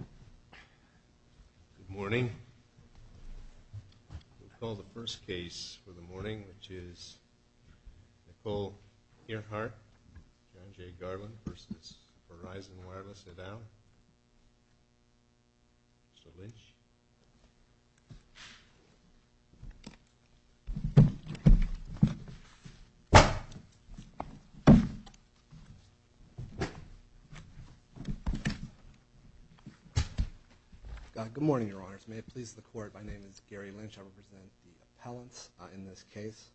Good morning. We'll call the first case for the morning, which is Nicole Ehrheart, John J. Garland v. Verizon Wireless, et al. Mr. Lynch. Good morning, Your Honors. May it please the Court, my name is Gary Lynch. I represent the appellants in this case.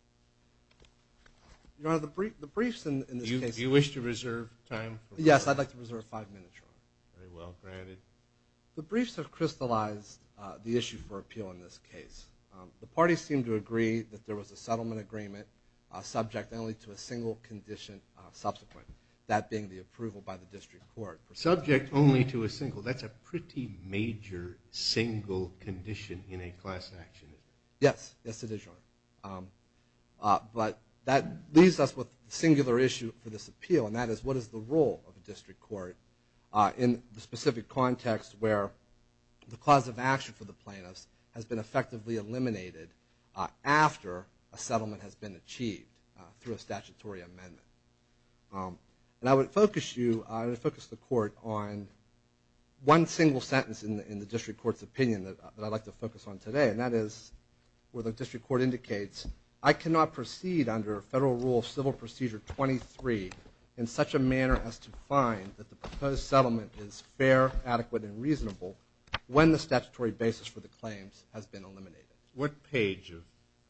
Your Honor, the briefs in this case... You wish to reserve time? Yes, I'd like to reserve five minutes, Your Honor. Very well, granted. The briefs have crystallized the issue for appeal in this case. The parties seem to agree that there was a settlement agreement subject only to a single condition subsequent, that being the approval by the District Court. Subject only to a single, that's a pretty major single condition in a class action. Yes, yes it is, Your Honor. But that leaves us with a singular issue for this appeal, and that is what is the role of a District Court in the specific context where the cause of action for the plaintiffs has been effectively eliminated after a settlement has been achieved through a statutory amendment. And I would focus the Court on one single sentence in the District Court's opinion that I'd like to focus on today, and that is where the District Court indicates, I cannot proceed under Federal Rule of Civil Procedure 23 in such a manner as to find that the proposed settlement is fair, adequate, and reasonable when the statutory basis for the claims has been eliminated. What page of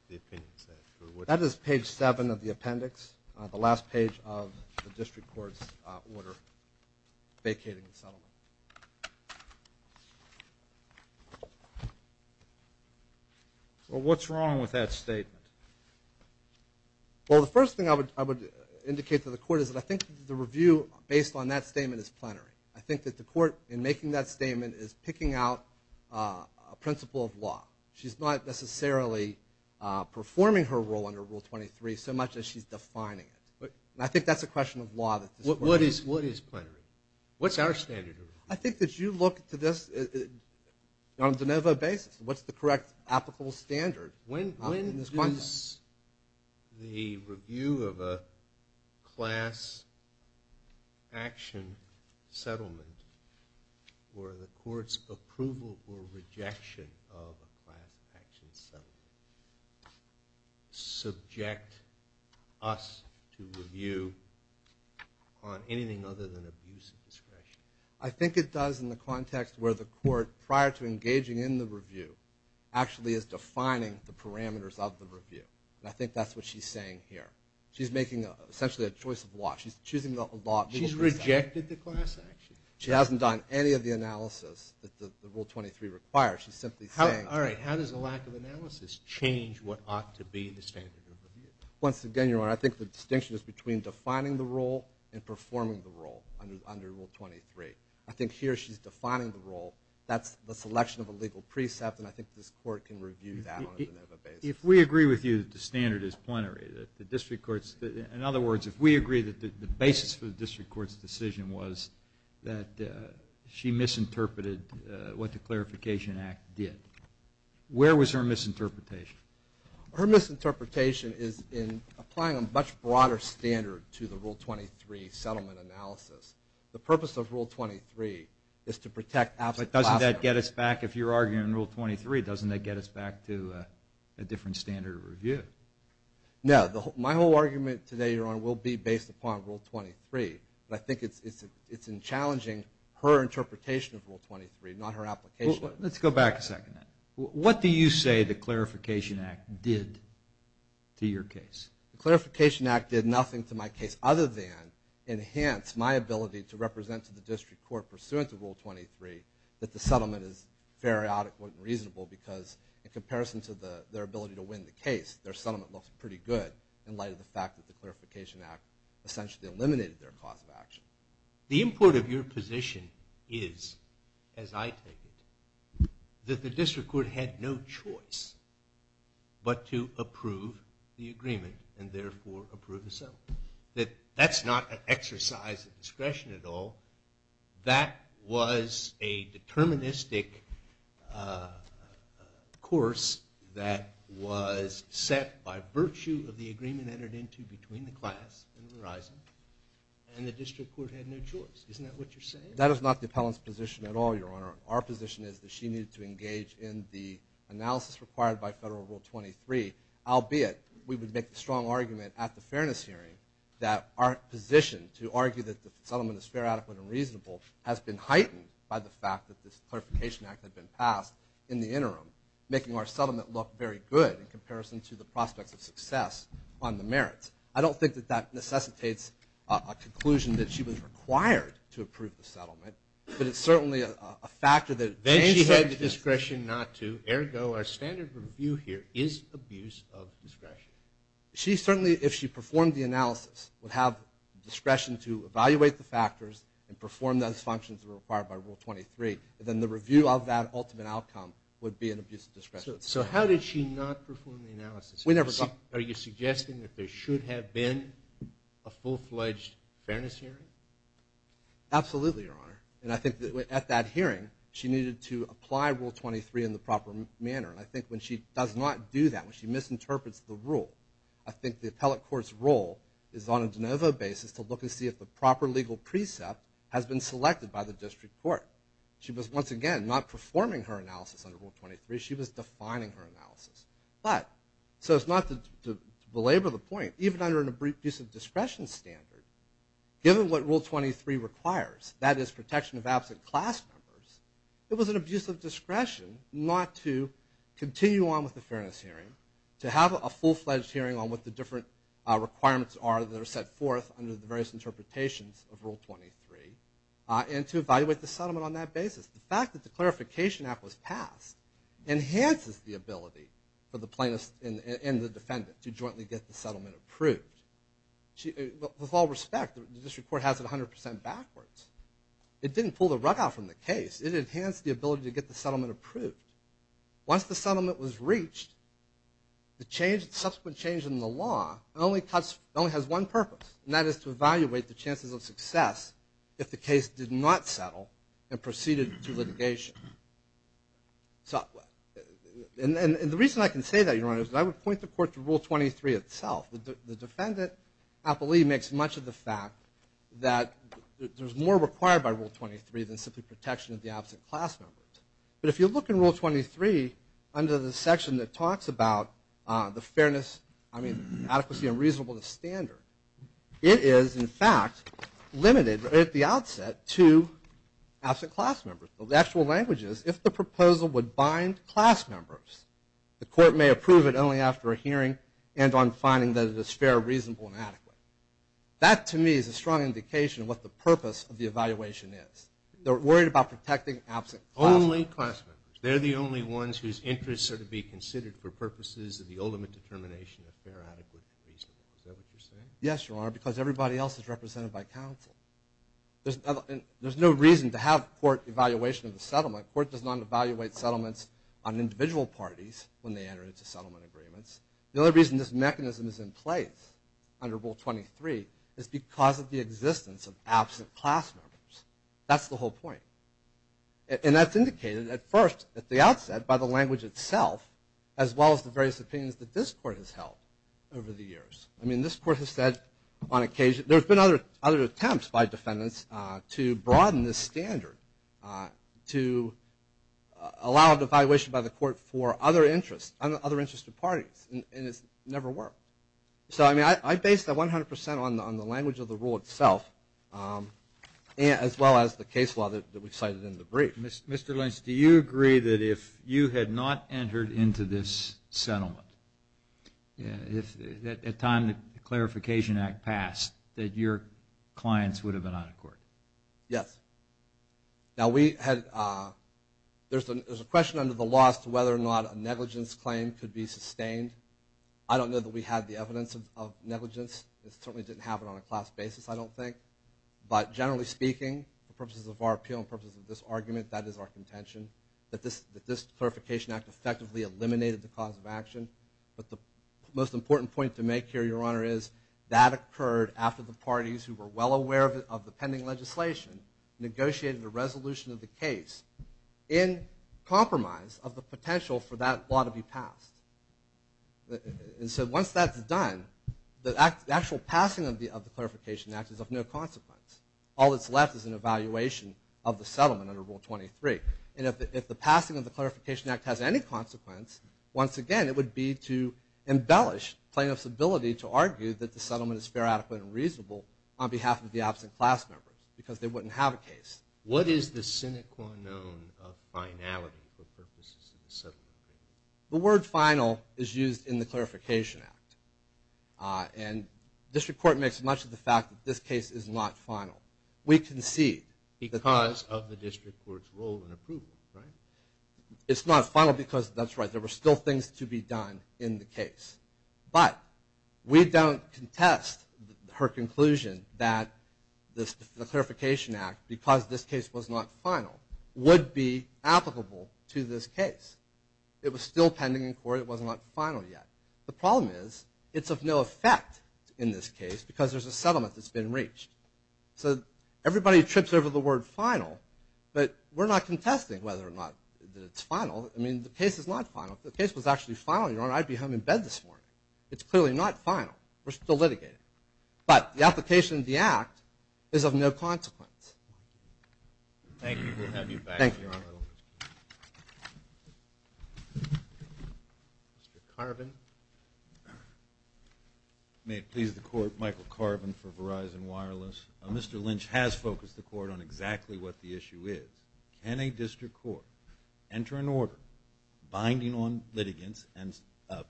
the opinion is that? That is page seven of the appendix, the last page of the District Court's order vacating the settlement. Well, what's wrong with that statement? Well, the first thing I would indicate to the Court is that I think the review based on that statement is plenary. I think that the Court, in making that statement, is picking out a principle of law. She's not necessarily performing her role under Rule 23 so much as she's defining it. And I think that's a question of law. What is plenary? What's our standard of review? I think that you look to this on a de novo basis. What's the correct applicable standard in this context? When does the review of a class action settlement or the Court's to review on anything other than abuse of discretion? I think it does in the context where the Court, prior to engaging in the review, actually is defining the parameters of the review. And I think that's what she's saying here. She's making essentially a choice of law. She's choosing the law. She's rejected the class action. She hasn't done any of the analysis that the Rule 23 requires. She's simply saying, all right, how does a lack of analysis change what ought to be the standard of review? Once again, Your Honor, I think the distinction is between defining the role and performing the role under Rule 23. I think here she's defining the role. That's the selection of a legal precept, and I think this Court can review that on a de novo basis. If we agree with you that the standard is plenary, that the district courts – in other words, if we agree that the basis for the district court's decision was that she misinterpreted what the Clarification Act did, where was her misinterpretation? Her misinterpretation is in applying a much broader standard to the Rule 23 settlement analysis. The purpose of Rule 23 is to protect – But doesn't that get us back – if you're arguing Rule 23, doesn't that get us back to a different standard of review? No. My whole argument today, Your Honor, will be based upon Rule 23. I think it's in challenging her interpretation of Rule 23, not her application. Let's go back a second. What do you say the Clarification Act did to your case? The Clarification Act did nothing to my case other than enhance my ability to represent to the district court, pursuant to Rule 23, that the settlement is fair, adequate, and reasonable, because in comparison to their ability to win the case, their settlement looks pretty good in light of the fact that the Clarification Act essentially eliminated their cause of action. The import of your position is, as I take it, that the district court had no choice but to approve the agreement and therefore approve the settlement. That's not an exercise of discretion at all. That was a deterministic course that was set by virtue of the agreement between the class and the district court had no choice. Isn't that what you're saying? That is not the appellant's position at all, Your Honor. Our position is that she needed to engage in the analysis required by Federal Rule 23, albeit we would make the strong argument at the fairness hearing that our position to argue that the settlement is fair, adequate, and reasonable has been heightened by the fact that this Clarification Act had been passed in the interim, making our settlement look very good in comparison to the prospects of the merits. I don't think that that necessitates a conclusion that she was required to approve the settlement, but it's certainly a factor that changed her position. Then she had the discretion not to, ergo, our standard review here is abuse of discretion. She certainly, if she performed the analysis, would have discretion to evaluate the factors and perform those functions required by Rule 23, and then the review of that ultimate outcome would be an abuse of discretion. So how did she not perform the analysis? We never got that. Are you suggesting that there should have been a full-fledged fairness hearing? Absolutely, Your Honor. And I think that at that hearing, she needed to apply Rule 23 in the proper manner. And I think when she does not do that, when she misinterprets the rule, I think the appellate court's role is on a de novo basis to look and see if the proper legal precept has been selected by the district court. She was, once again, not performing her analysis under Rule 23. She was defining her analysis. So it's not to belabor the point, even under an abuse of discretion standard, given what Rule 23 requires, that is protection of absent class members, it was an abuse of discretion not to continue on with the fairness hearing, to have a full-fledged hearing on what the different requirements are that are set forth under the various interpretations of Rule 23, and to evaluate the settlement on that basis. The fact that the clarification act was passed enhances the ability for the plaintiff and the defendant to jointly get the settlement approved. With all respect, the district court has it 100% backwards. It didn't pull the rug out from the case. It enhanced the ability to get the settlement approved. Once the settlement was reached, the subsequent change in the law only has one purpose, and that is to evaluate the chances of success if the case did not settle and proceeded to litigation. And the reason I can say that, Your Honor, is that I would point the court to Rule 23 itself. The defendant, I believe, makes much of the fact that there's more required by Rule 23 than simply protection of the absent class members. But if you look in Rule 23 under the section that talks about the fairness, I mean, adequacy and reasonableness standard, it is, in fact, limited at the outset to absent class members. The actual language is, if the proposal would bind class members, the court may approve it only after a hearing and on finding that it is fair, reasonable, and adequate. That, to me, is a strong indication of what the purpose of the evaluation is. They're worried about protecting absent class members. Only class members. They're the only ones whose interests are to be considered for purposes of the ultimate determination of fair, adequate, and reasonable. Is that what you're saying? Yes, Your Honor, because everybody else is represented by counsel. There's no reason to have court evaluation of the settlement. Court does not evaluate settlements on individual parties when they enter into settlement agreements. The only reason this mechanism is in place under Rule 23 is because of the existence of absent class members. That's the whole point. And that's indicated at first, at the outset, by the language itself, as well as the various opinions that this court has held over the years. I mean, this court has said on occasion, there's been other attempts by defendants to broaden this standard to allow evaluation by the court for other interests, other interested parties. And it's never worked. So, I mean, I base that 100% on the language of the rule itself, as well as the case law that we cited in the brief. Mr. Lynch, do you agree that if you had not entered into this settlement, at the time the Clarification Act passed, that your clients would have been out of court? Yes. Now, there's a question under the law as to whether or not a negligence claim could be sustained. I don't know that we have the evidence of negligence. It certainly didn't happen on a class basis, I don't think. But generally speaking, for purposes of our appeal and purposes of this argument, that is our contention, that this Clarification Act effectively eliminated the cause of action. But the most important point to make here, Your Honor, is that occurred after the parties who were well aware of the pending legislation negotiated a resolution of the case in compromise of the potential for that law to be passed. And so once that's done, the actual passing of the Clarification Act is of no consequence. All that's left is an evaluation of the settlement under Rule 23. And if the passing of the Clarification Act has any consequence, once again, it would be to embellish plaintiff's ability to argue that the settlement is fair, adequate, and reasonable on behalf of the absent class members, because they wouldn't have a case. What is the sine qua non of finality for purposes of the settlement? The word final is used in the Clarification Act. And district court makes much of the fact that this case is not final. We concede. Because of the district court's role in approval, right? It's not final because, that's right, there were still things to be done in the case. But we don't contest her conclusion that the Clarification Act, because this case was not final, would be applicable to this case. It was still pending in court. It was not final yet. The problem is it's of no effect in this case because there's a settlement that's been reached. So everybody trips over the word final, but we're not contesting whether or not it's final. I mean, the case is not final. If the case was actually final, Your Honor, I'd be home in bed this morning. It's clearly not final. We're still litigating. But the application of the act is of no consequence. Thank you. We'll have you back, Your Honor. Thank you. Mr. Carbon. May it please the Court, Michael Carbon for Verizon Wireless. Mr. Lynch has focused the Court on exactly what the issue is. Can a district court enter an order binding on litigants and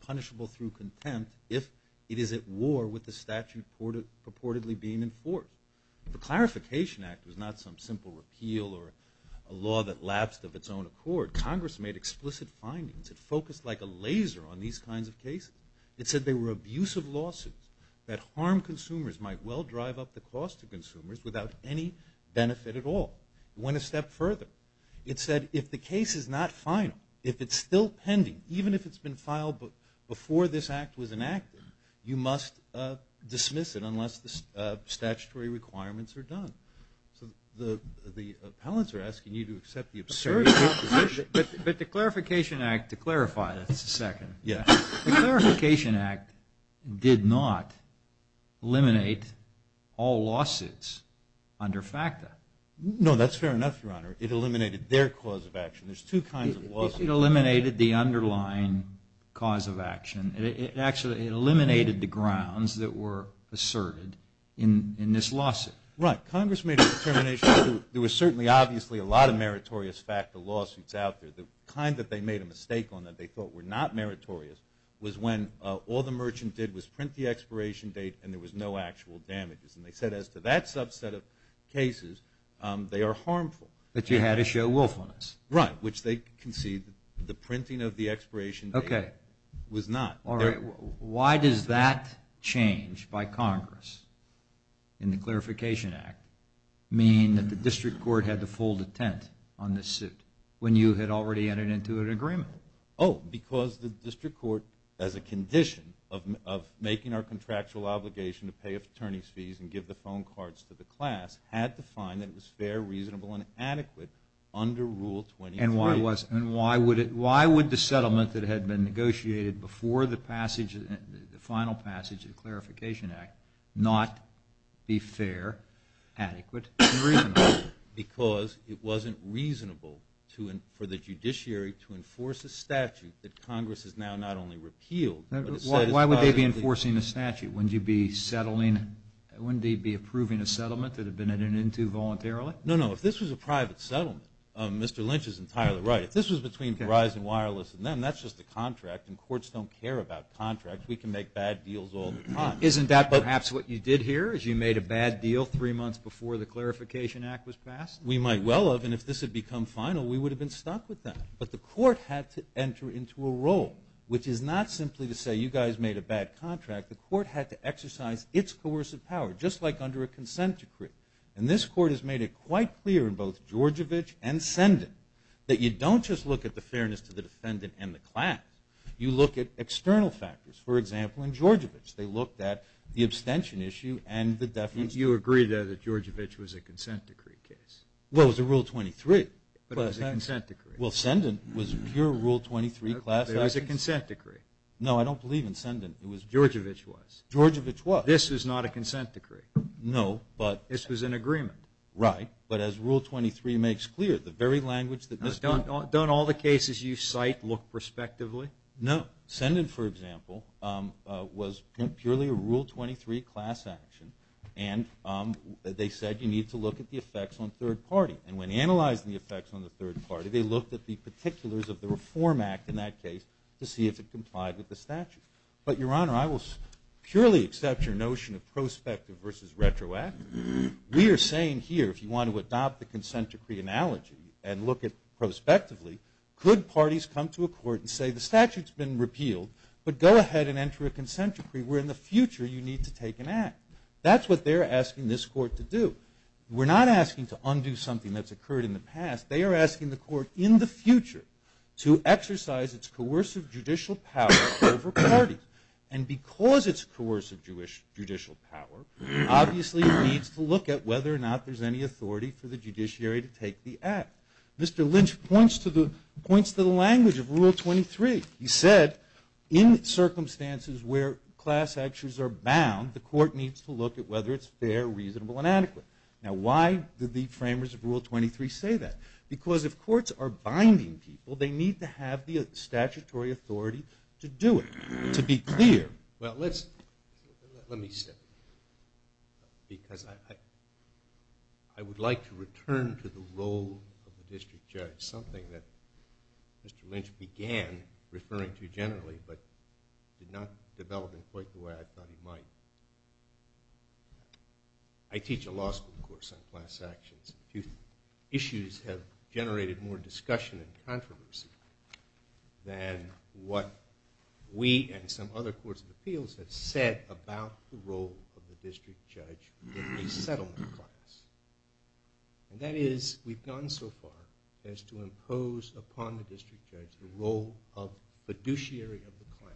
punishable through contempt if it is at war with the statute purportedly being enforced? The Clarification Act was not some simple repeal or a law that lapsed of its own accord. Congress made explicit findings. It focused like a laser on these kinds of cases. It said they were abusive lawsuits that harm consumers, might well drive up the cost to consumers without any benefit at all. It went a step further. It said if the case is not final, if it's still pending, even if it's been filed before this act was enacted, you must dismiss it unless the statutory requirements are done. So the appellants are asking you to accept the absurd position. But the Clarification Act, to clarify this a second, the Clarification Act did not eliminate all lawsuits under FACTA. No, that's fair enough, Your Honor. It eliminated their cause of action. There's two kinds of lawsuits. It eliminated the underlying cause of action. It actually eliminated the grounds that were asserted in this lawsuit. Right. Congress made a determination. There was certainly obviously a lot of meritorious FACTA lawsuits out there. The kind that they made a mistake on that they thought were not meritorious was when all the merchant did was print the expiration date and there was no actual damages. And they said as to that subset of cases, they are harmful. But you had to show willfulness. Right, which they conceded the printing of the expiration date was not. Why does that change by Congress in the Clarification Act mean that the District Court had to fold a tent on this suit when you had already entered into an agreement? Oh, because the District Court, as a condition of making our contractual obligation to pay attorney's fees and give the phone cards to the class, had to find that it was fair, reasonable, and adequate under Rule 23. And why would the settlement that had been negotiated before the passage, the final passage of the Clarification Act, not be fair, adequate, and reasonable? Because it wasn't reasonable for the judiciary to enforce a statute that Congress has now not only repealed. Why would they be enforcing a statute? Wouldn't they be approving a settlement that had been entered into voluntarily? No, no. If this was a private settlement, Mr. Lynch is entirely right. If this was between Verizon Wireless and them, that's just a contract, and courts don't care about contracts. We can make bad deals all the time. Isn't that perhaps what you did here is you made a bad deal three months before the Clarification Act was passed? We might well have. And if this had become final, we would have been stuck with that. But the court had to enter into a role, which is not simply to say, you guys made a bad contract. The court had to exercise its coercive power, just like under a consent decree. And this court has made it quite clear in both Georgievich and Sendin that you don't just look at the fairness to the defendant and the class. You look at external factors. For example, in Georgievich, they looked at the abstention issue and the defense. But you agreed there that Georgievich was a consent decree case. Well, it was a Rule 23. But it was a consent decree. Well, Sendin was pure Rule 23. It was a consent decree. No, I don't believe in Sendin. Georgievich was. Georgievich was. This is not a consent decree. No, but. This was an agreement. Right. But as Rule 23 makes clear, the very language that. Don't all the cases you cite look prospectively? No. Sendin, for example, was purely a Rule 23 class action. And they said you need to look at the effects on third party. And when analyzing the effects on the third party, they looked at the particulars of the Reform Act in that case to see if it complied with the statute. But, Your Honor, I will purely accept your notion of prospective versus retroactive. We are saying here, if you want to adopt the consent decree analogy and look at it prospectively, could parties come to a court and say the statute's been repealed, but go ahead and enter a consent decree where in the future you need to take an act? That's what they're asking this court to do. They are asking the court in the future to exercise its coercive judicial power over parties. And because it's coercive judicial power, obviously it needs to look at whether or not there's any authority for the judiciary to take the act. Mr. Lynch points to the language of Rule 23. He said in circumstances where class actions are bound, the court needs to look at whether it's fair, reasonable, and adequate. Now, why did the framers of Rule 23 say that? Because if courts are binding people, they need to have the statutory authority to do it, to be clear. Well, let me step back. Because I would like to return to the role of the district judge, something that Mr. Lynch began referring to generally, but did not develop in quite the way I thought he might. I teach a law school course on class actions. Issues have generated more discussion and controversy than what we and some other courts of appeals have said about the role of the district judge in a settlement class. And that is, we've gone so far as to impose upon the district judge the role of fiduciary of the class.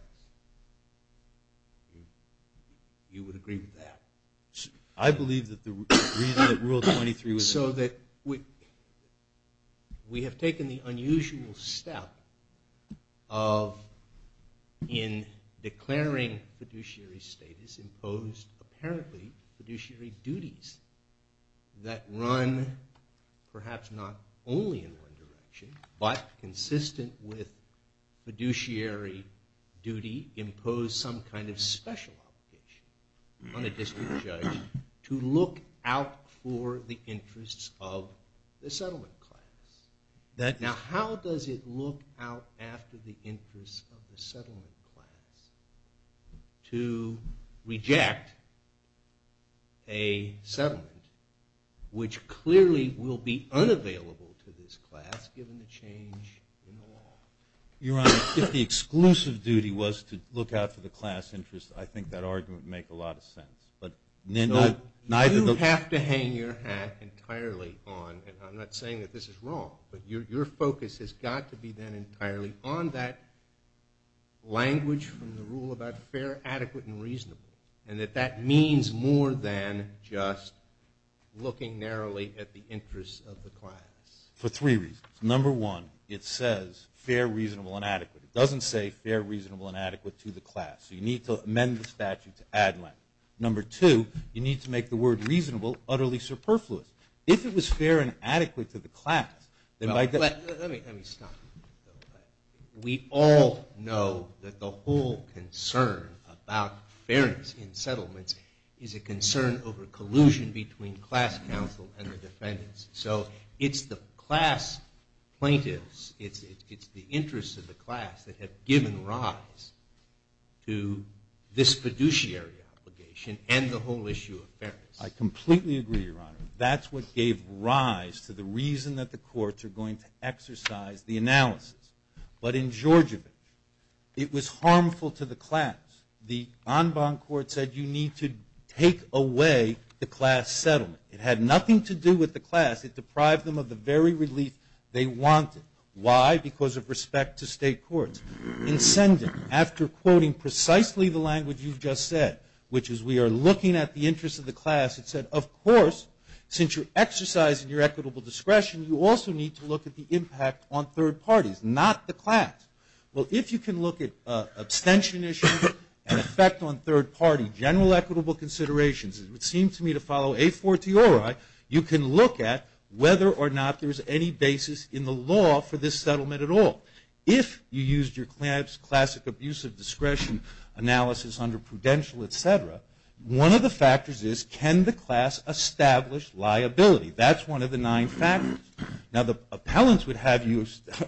You would agree with that? I believe that the reason that Rule 23 was... So that we have taken the unusual step of, in declaring fiduciary status, imposed apparently fiduciary duties that run perhaps not only in one direction, but consistent with fiduciary duty, impose some kind of special obligation on a district judge to look out for the interests of the settlement class. Now, how does it look out after the interests of the settlement class to reject a settlement which clearly will be unavailable to this class given the change in the law? Your Honor, if the exclusive duty was to look out for the class interests, I think that argument would make a lot of sense. You have to hang your hat entirely on, and I'm not saying that this is wrong, but your focus has got to be then entirely on that language from the rule about fair, adequate, and reasonable, and that that means more than just looking narrowly at the interests of the class. For three reasons. Number one, it says fair, reasonable, and adequate. It doesn't say fair, reasonable, and adequate to the class. So you need to amend the statute to add language. Number two, you need to make the word reasonable utterly superfluous. If it was fair and adequate to the class, then by... Let me stop you. We all know that the whole concern about fairness in settlements is a concern over collusion between class counsel and the defendants. So it's the class plaintiffs, it's the interests of the class that have given rise to this fiduciary obligation and the whole issue of fairness. I completely agree, Your Honor. That's what gave rise to the reason that the courts are going to exercise the analysis. But in Georgievich, it was harmful to the class. The en banc court said you need to take away the class settlement. It had nothing to do with the class. It deprived them of the very relief they wanted. Why? Because of respect to state courts. In Sendon, after quoting precisely the language you've just said, which is we are looking at the interests of the class, it said, of course, since you're exercising your equitable discretion, you also need to look at the impact on third parties, not the class. Well, if you can look at abstention issues and effect on third party, general equitable considerations, it would seem to me to follow a fortiori, you can look at whether or not there's any basis in the law for this settlement at all. If you used your classic abuse of discretion analysis under Prudential, et cetera, one of the factors is can the class establish liability? That's one of the nine factors. Now, the appellants would have you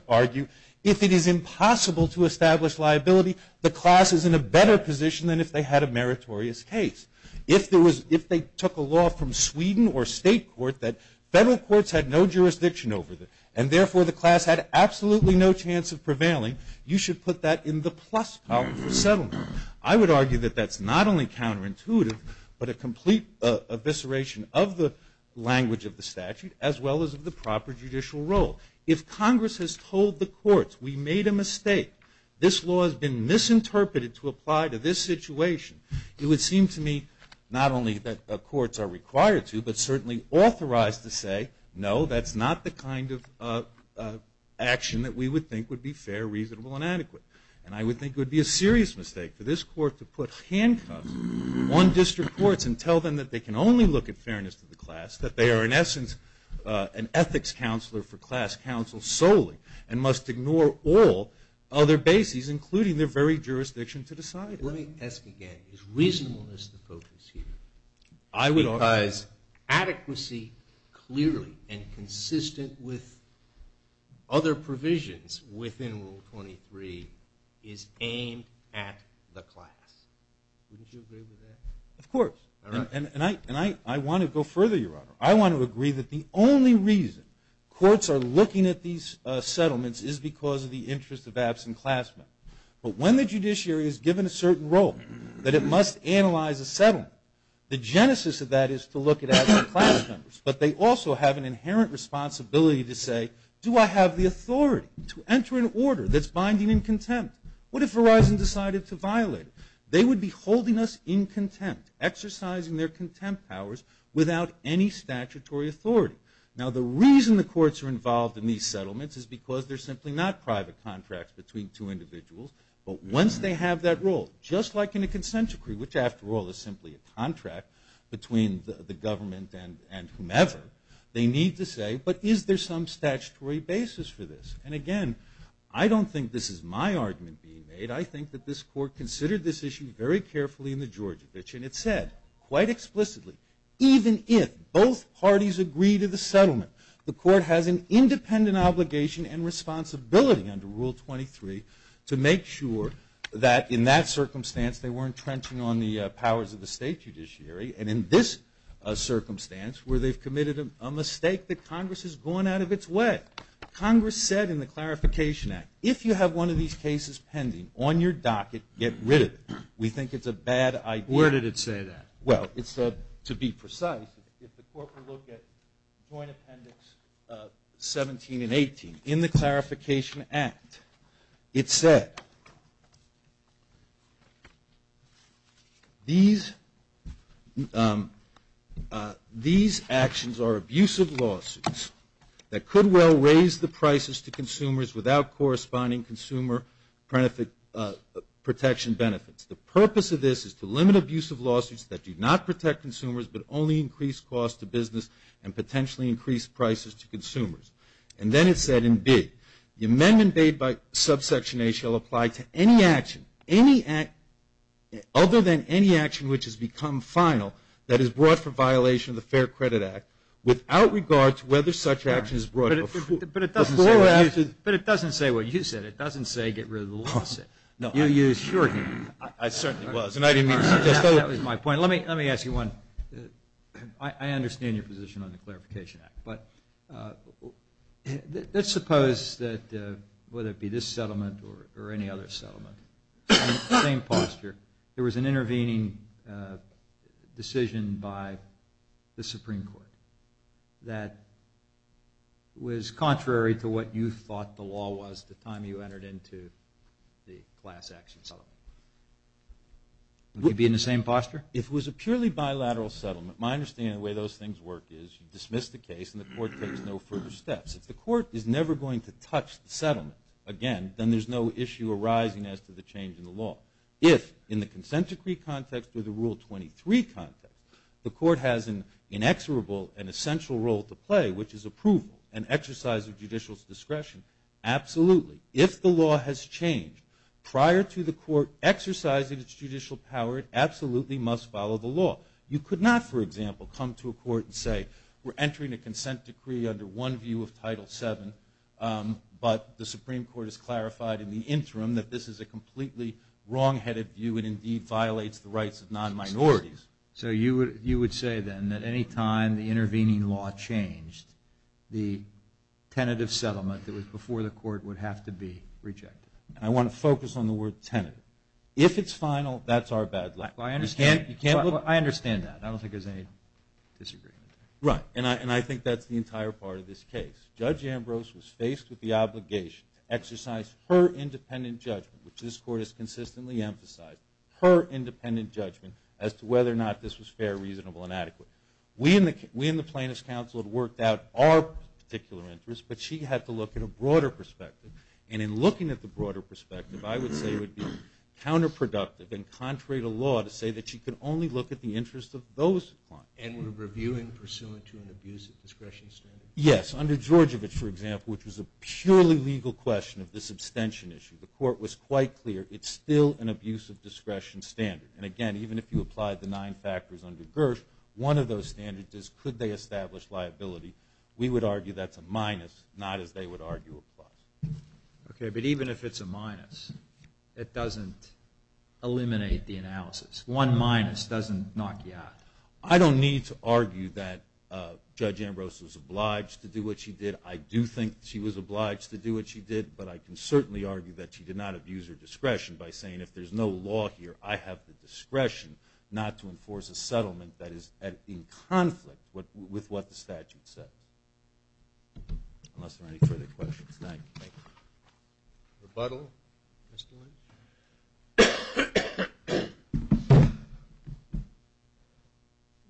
argue if it is impossible to establish liability, the class is in a better position than if they had a meritorious case. If they took a law from Sweden or state court that federal courts had no jurisdiction over it and, therefore, the class had absolutely no chance of prevailing, you should put that in the plus column for settlement. I would argue that that's not only counterintuitive but a complete evisceration of the language of the statute as well as of the proper judicial role. If Congress has told the courts we made a mistake, this law has been misinterpreted to apply to this situation, it would seem to me not only that courts are required to but certainly authorized to say, no, that's not the kind of action that we would think would be fair, reasonable, and adequate. And I would think it would be a serious mistake for this court to put handcuffs on district courts and tell them that they can only look at fairness to the class, that they are, in essence, an ethics counselor for class counsel solely and must ignore all other bases including their very jurisdiction to decide it. Let me ask again. Is reasonableness the focus here? I would argue that adequacy clearly and consistent with other provisions within Rule 23 is aimed at the class. Wouldn't you agree with that? Of course. And I want to go further, Your Honor. I want to agree that the only reason courts are looking at these settlements is because of the interest of absent class members. But when the judiciary is given a certain role that it must analyze a settlement, the genesis of that is to look at absent class members. But they also have an inherent responsibility to say, do I have the authority to enter an order that's binding in contempt? What if Verizon decided to violate it? They would be holding us in contempt, exercising their contempt powers, without any statutory authority. Now, the reason the courts are involved in these settlements is because they're simply not private contracts between two individuals. But once they have that role, just like in a consent decree, which, after all, is simply a contract between the government and whomever, they need to say, but is there some statutory basis for this? And, again, I don't think this is my argument being made. I think that this court considered this issue very carefully in the Georgievich, and it said, quite explicitly, even if both parties agree to the settlement, the court has an independent obligation and responsibility under Rule 23 to make sure that, in that circumstance, they weren't trenching on the powers of the state judiciary. And in this circumstance, where they've committed a mistake, that Congress has gone out of its way. Congress said in the Clarification Act, if you have one of these cases pending on your docket, get rid of it. We think it's a bad idea. Where did it say that? Well, it said, to be precise, if the court were to look at Joint Appendix 17 and 18, in the Clarification Act, it said, these actions are abusive lawsuits that could well raise the prices to consumers without corresponding consumer protection benefits. The purpose of this is to limit abusive lawsuits that do not protect consumers but only increase costs to business and potentially increase prices to consumers. And then it said in B, the amendment made by Subsection A shall apply to any action, other than any action which has become final, that is brought for violation of the Fair Credit Act, without regard to whether such action is brought before you. But it doesn't say what you said. It doesn't say get rid of the lawsuit. No. You assured me. I certainly was. And I didn't mean to suggest that. That was my point. Let me ask you one. I understand your position on the Clarification Act. But let's suppose that whether it be this settlement or any other settlement, same posture, there was an intervening decision by the Supreme Court that was contrary to what you thought the law was the time you entered into the class action settlement. Would you be in the same posture? If it was a purely bilateral settlement, my understanding of the way those things work is you dismiss the case and the court takes no further steps. If the court is never going to touch the settlement again, then there's no issue arising as to the change in the law. If, in the consent decree context or the Rule 23 context, the court has an inexorable and essential role to play, which is approval and exercise of judicial discretion, absolutely. If the law has changed prior to the court exercising its judicial power, it absolutely must follow the law. You could not, for example, come to a court and say, we're entering a consent decree under one view of Title VII, but the Supreme Court has clarified in the interim that this is a completely wrong-headed view and, indeed, violates the rights of non-minorities. So you would say, then, that any time the intervening law changed, the tentative settlement that was before the court would have to be rejected. I want to focus on the word tentative. If it's final, that's our bad luck. I understand that. I don't think there's any disagreement. Right, and I think that's the entire part of this case. Judge Ambrose was faced with the obligation to exercise her independent judgment, which this court has consistently emphasized, her independent judgment as to whether or not this was fair, reasonable, and adequate. We in the Plaintiffs' Council had worked out our particular interests, but she had to look at a broader perspective. And in looking at the broader perspective, I would say it would be counterproductive and contrary to law to say that she could only look at the interests of those clients. And were reviewing pursuant to an abusive discretionary standard. Yes, under Georgievich, for example, which was a purely legal question of this abstention issue, the court was quite clear it's still an abusive discretion standard. And, again, even if you applied the nine factors under Gersh, one of those standards is could they establish liability. We would argue that's a minus, not as they would argue applies. Okay, but even if it's a minus, it doesn't eliminate the analysis. One minus doesn't knock you out. I don't need to argue that Judge Ambrose was obliged to do what she did. I do think she was obliged to do what she did, but I can certainly argue that she did not abuse her discretion by saying, if there's no law here, I have the discretion not to enforce a settlement that is in conflict with what the statute says. Unless there are any further questions. Thank you. Rebuttal, Mr. Lynch?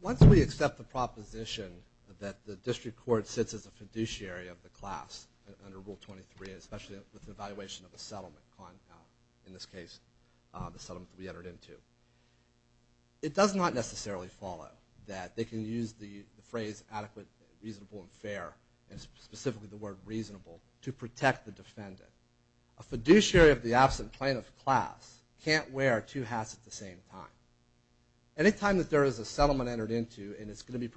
Once we accept the proposition that the district court sits as a fiduciary of the absent plaintiff class under Rule 23, especially with the evaluation of the settlement, in this case the settlement that we entered into, it does not necessarily follow that they can use the phrase adequate, reasonable, and fair, and specifically the word reasonable, to protect the defendant. A fiduciary of the absent plaintiff class can't wear two hats at the same time. Any time that there is a settlement entered into and it's going to be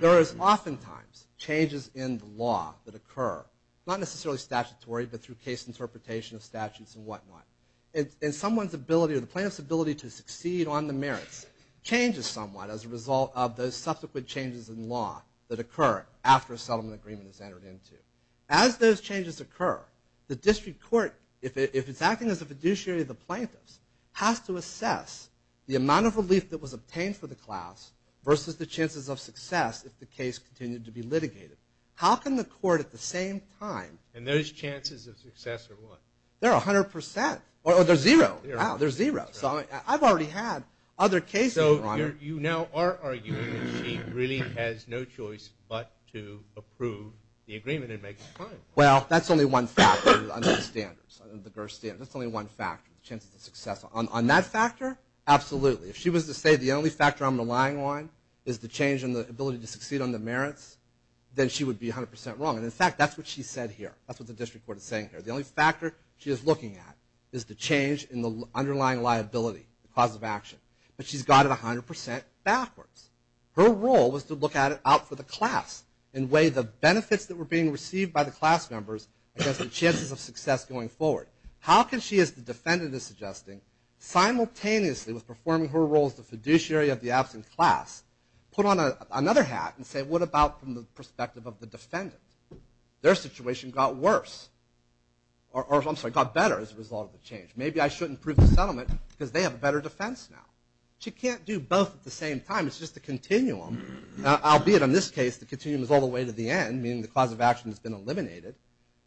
There is oftentimes changes in the law that occur, not necessarily statutory, but through case interpretation of statutes and whatnot. And someone's ability or the plaintiff's ability to succeed on the merits changes somewhat as a result of those subsequent changes in law that occur after a settlement agreement is entered into. As those changes occur, the district court, if it's acting as a fiduciary of the plaintiffs, has to assess the amount of relief that was obtained for the class versus the chances of success if the case continued to be litigated. How can the court at the same time And those chances of success are what? They're 100%. Oh, they're zero. Wow, they're zero. So I've already had other cases, Your Honor. So you now are arguing that she really has no choice but to approve the agreement and make it final. Well, that's only one factor under the standards, under the GERS standards. That's only one factor, the chances of success. On that factor, absolutely. If she was to say the only factor I'm relying on is the change in the ability to succeed on the merits, then she would be 100% wrong. And, in fact, that's what she said here. That's what the district court is saying here. The only factor she is looking at is the change in the underlying liability, the cause of action. But she's got it 100% backwards. Her role was to look at it out for the class and weigh the benefits that were being received by the class members against the chances of success going forward. How can she, as the defendant is suggesting, simultaneously with performing her role as the fiduciary of the absent class, put on another hat and say, what about from the perspective of the defendant? Their situation got worse. Or, I'm sorry, got better as a result of the change. Maybe I shouldn't approve the settlement because they have a better defense now. She can't do both at the same time. It's just a continuum. Albeit, in this case, the continuum is all the way to the end, meaning the cause of action has been eliminated.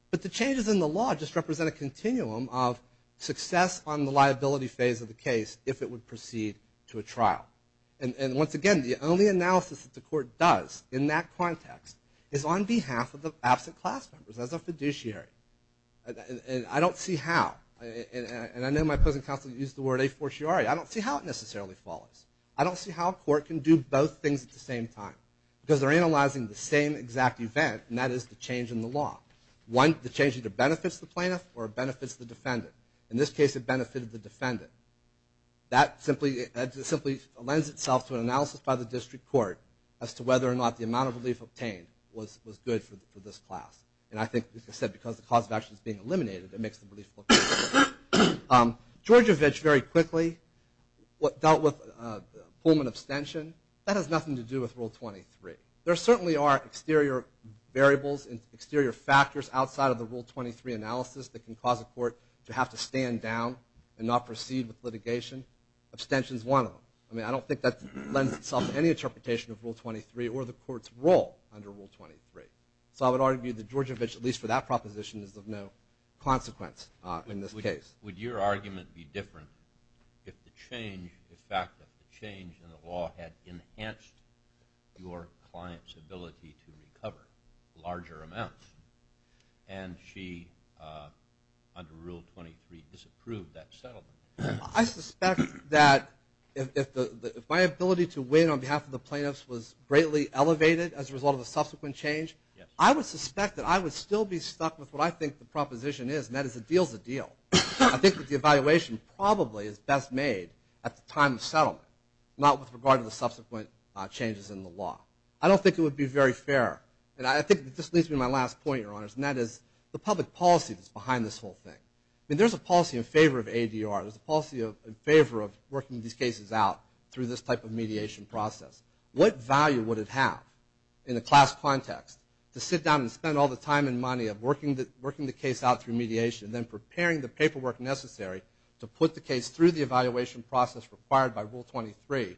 But the changes in the law just represent a continuum of success on the liability phase of the case if it would proceed to a trial. And once again, the only analysis that the court does in that context is on behalf of the absent class members as a fiduciary. And I don't see how. And I know my opposing counsel used the word a fortiori. I don't see how it necessarily follows. I don't see how a court can do both things at the same time because they're analyzing the same exact event, and that is the change in the law. The change either benefits the plaintiff or benefits the defendant. In this case, it benefited the defendant. That simply lends itself to an analysis by the district court as to whether or not the amount of relief obtained was good for this class. And I think, as I said, because the cause of action is being eliminated, it makes the relief look good. Georgievich very quickly dealt with Pullman abstention. That has nothing to do with Rule 23. There certainly are exterior variables and exterior factors outside of the Rule 23 analysis that can cause a court to have to stand down and not proceed with litigation. Abstention is one of them. I mean, I don't think that lends itself to any interpretation of Rule 23 or the court's role under Rule 23. So I would argue that Georgievich, at least for that proposition, is of no consequence in this case. Would your argument be different if the change, the fact that the change in the law had enhanced your client's ability to recover larger amounts? And she, under Rule 23, disapproved that settlement? I suspect that if my ability to win on behalf of the plaintiffs was greatly elevated as a result of the subsequent change, I would suspect that I would still be stuck with what I think the proposition is, and that is a deal's a deal. I think that the evaluation probably is best made at the time of settlement, not with regard to the subsequent changes in the law. I don't think it would be very fair. And I think this leads me to my last point, Your Honors, and that is the public policy that's behind this whole thing. I mean, there's a policy in favor of ADR. There's a policy in favor of working these cases out through this type of mediation process. What value would it have in a class context to sit down and spend all the time and money of working the case out through mediation and then preparing the paperwork necessary to put the case through the evaluation process required by Rule 23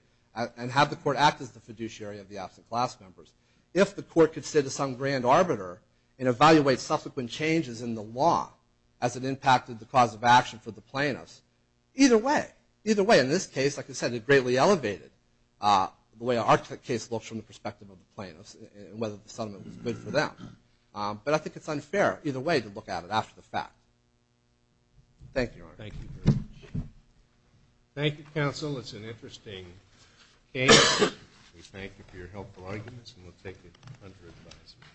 and have the court act as the fiduciary of the absent class members if the court could sit as some grand arbiter and evaluate subsequent changes in the law as it impacted the cause of action for the plaintiffs? Either way. Either way, in this case, like I said, it greatly elevated the way our case looks from the perspective of the plaintiffs and whether the settlement was good for them. But I think it's unfair either way to look at it after the fact. Thank you, Your Honor. Thank you very much. Thank you, counsel. It's an interesting case. We thank you for your helpful arguments and we'll take it under advisement.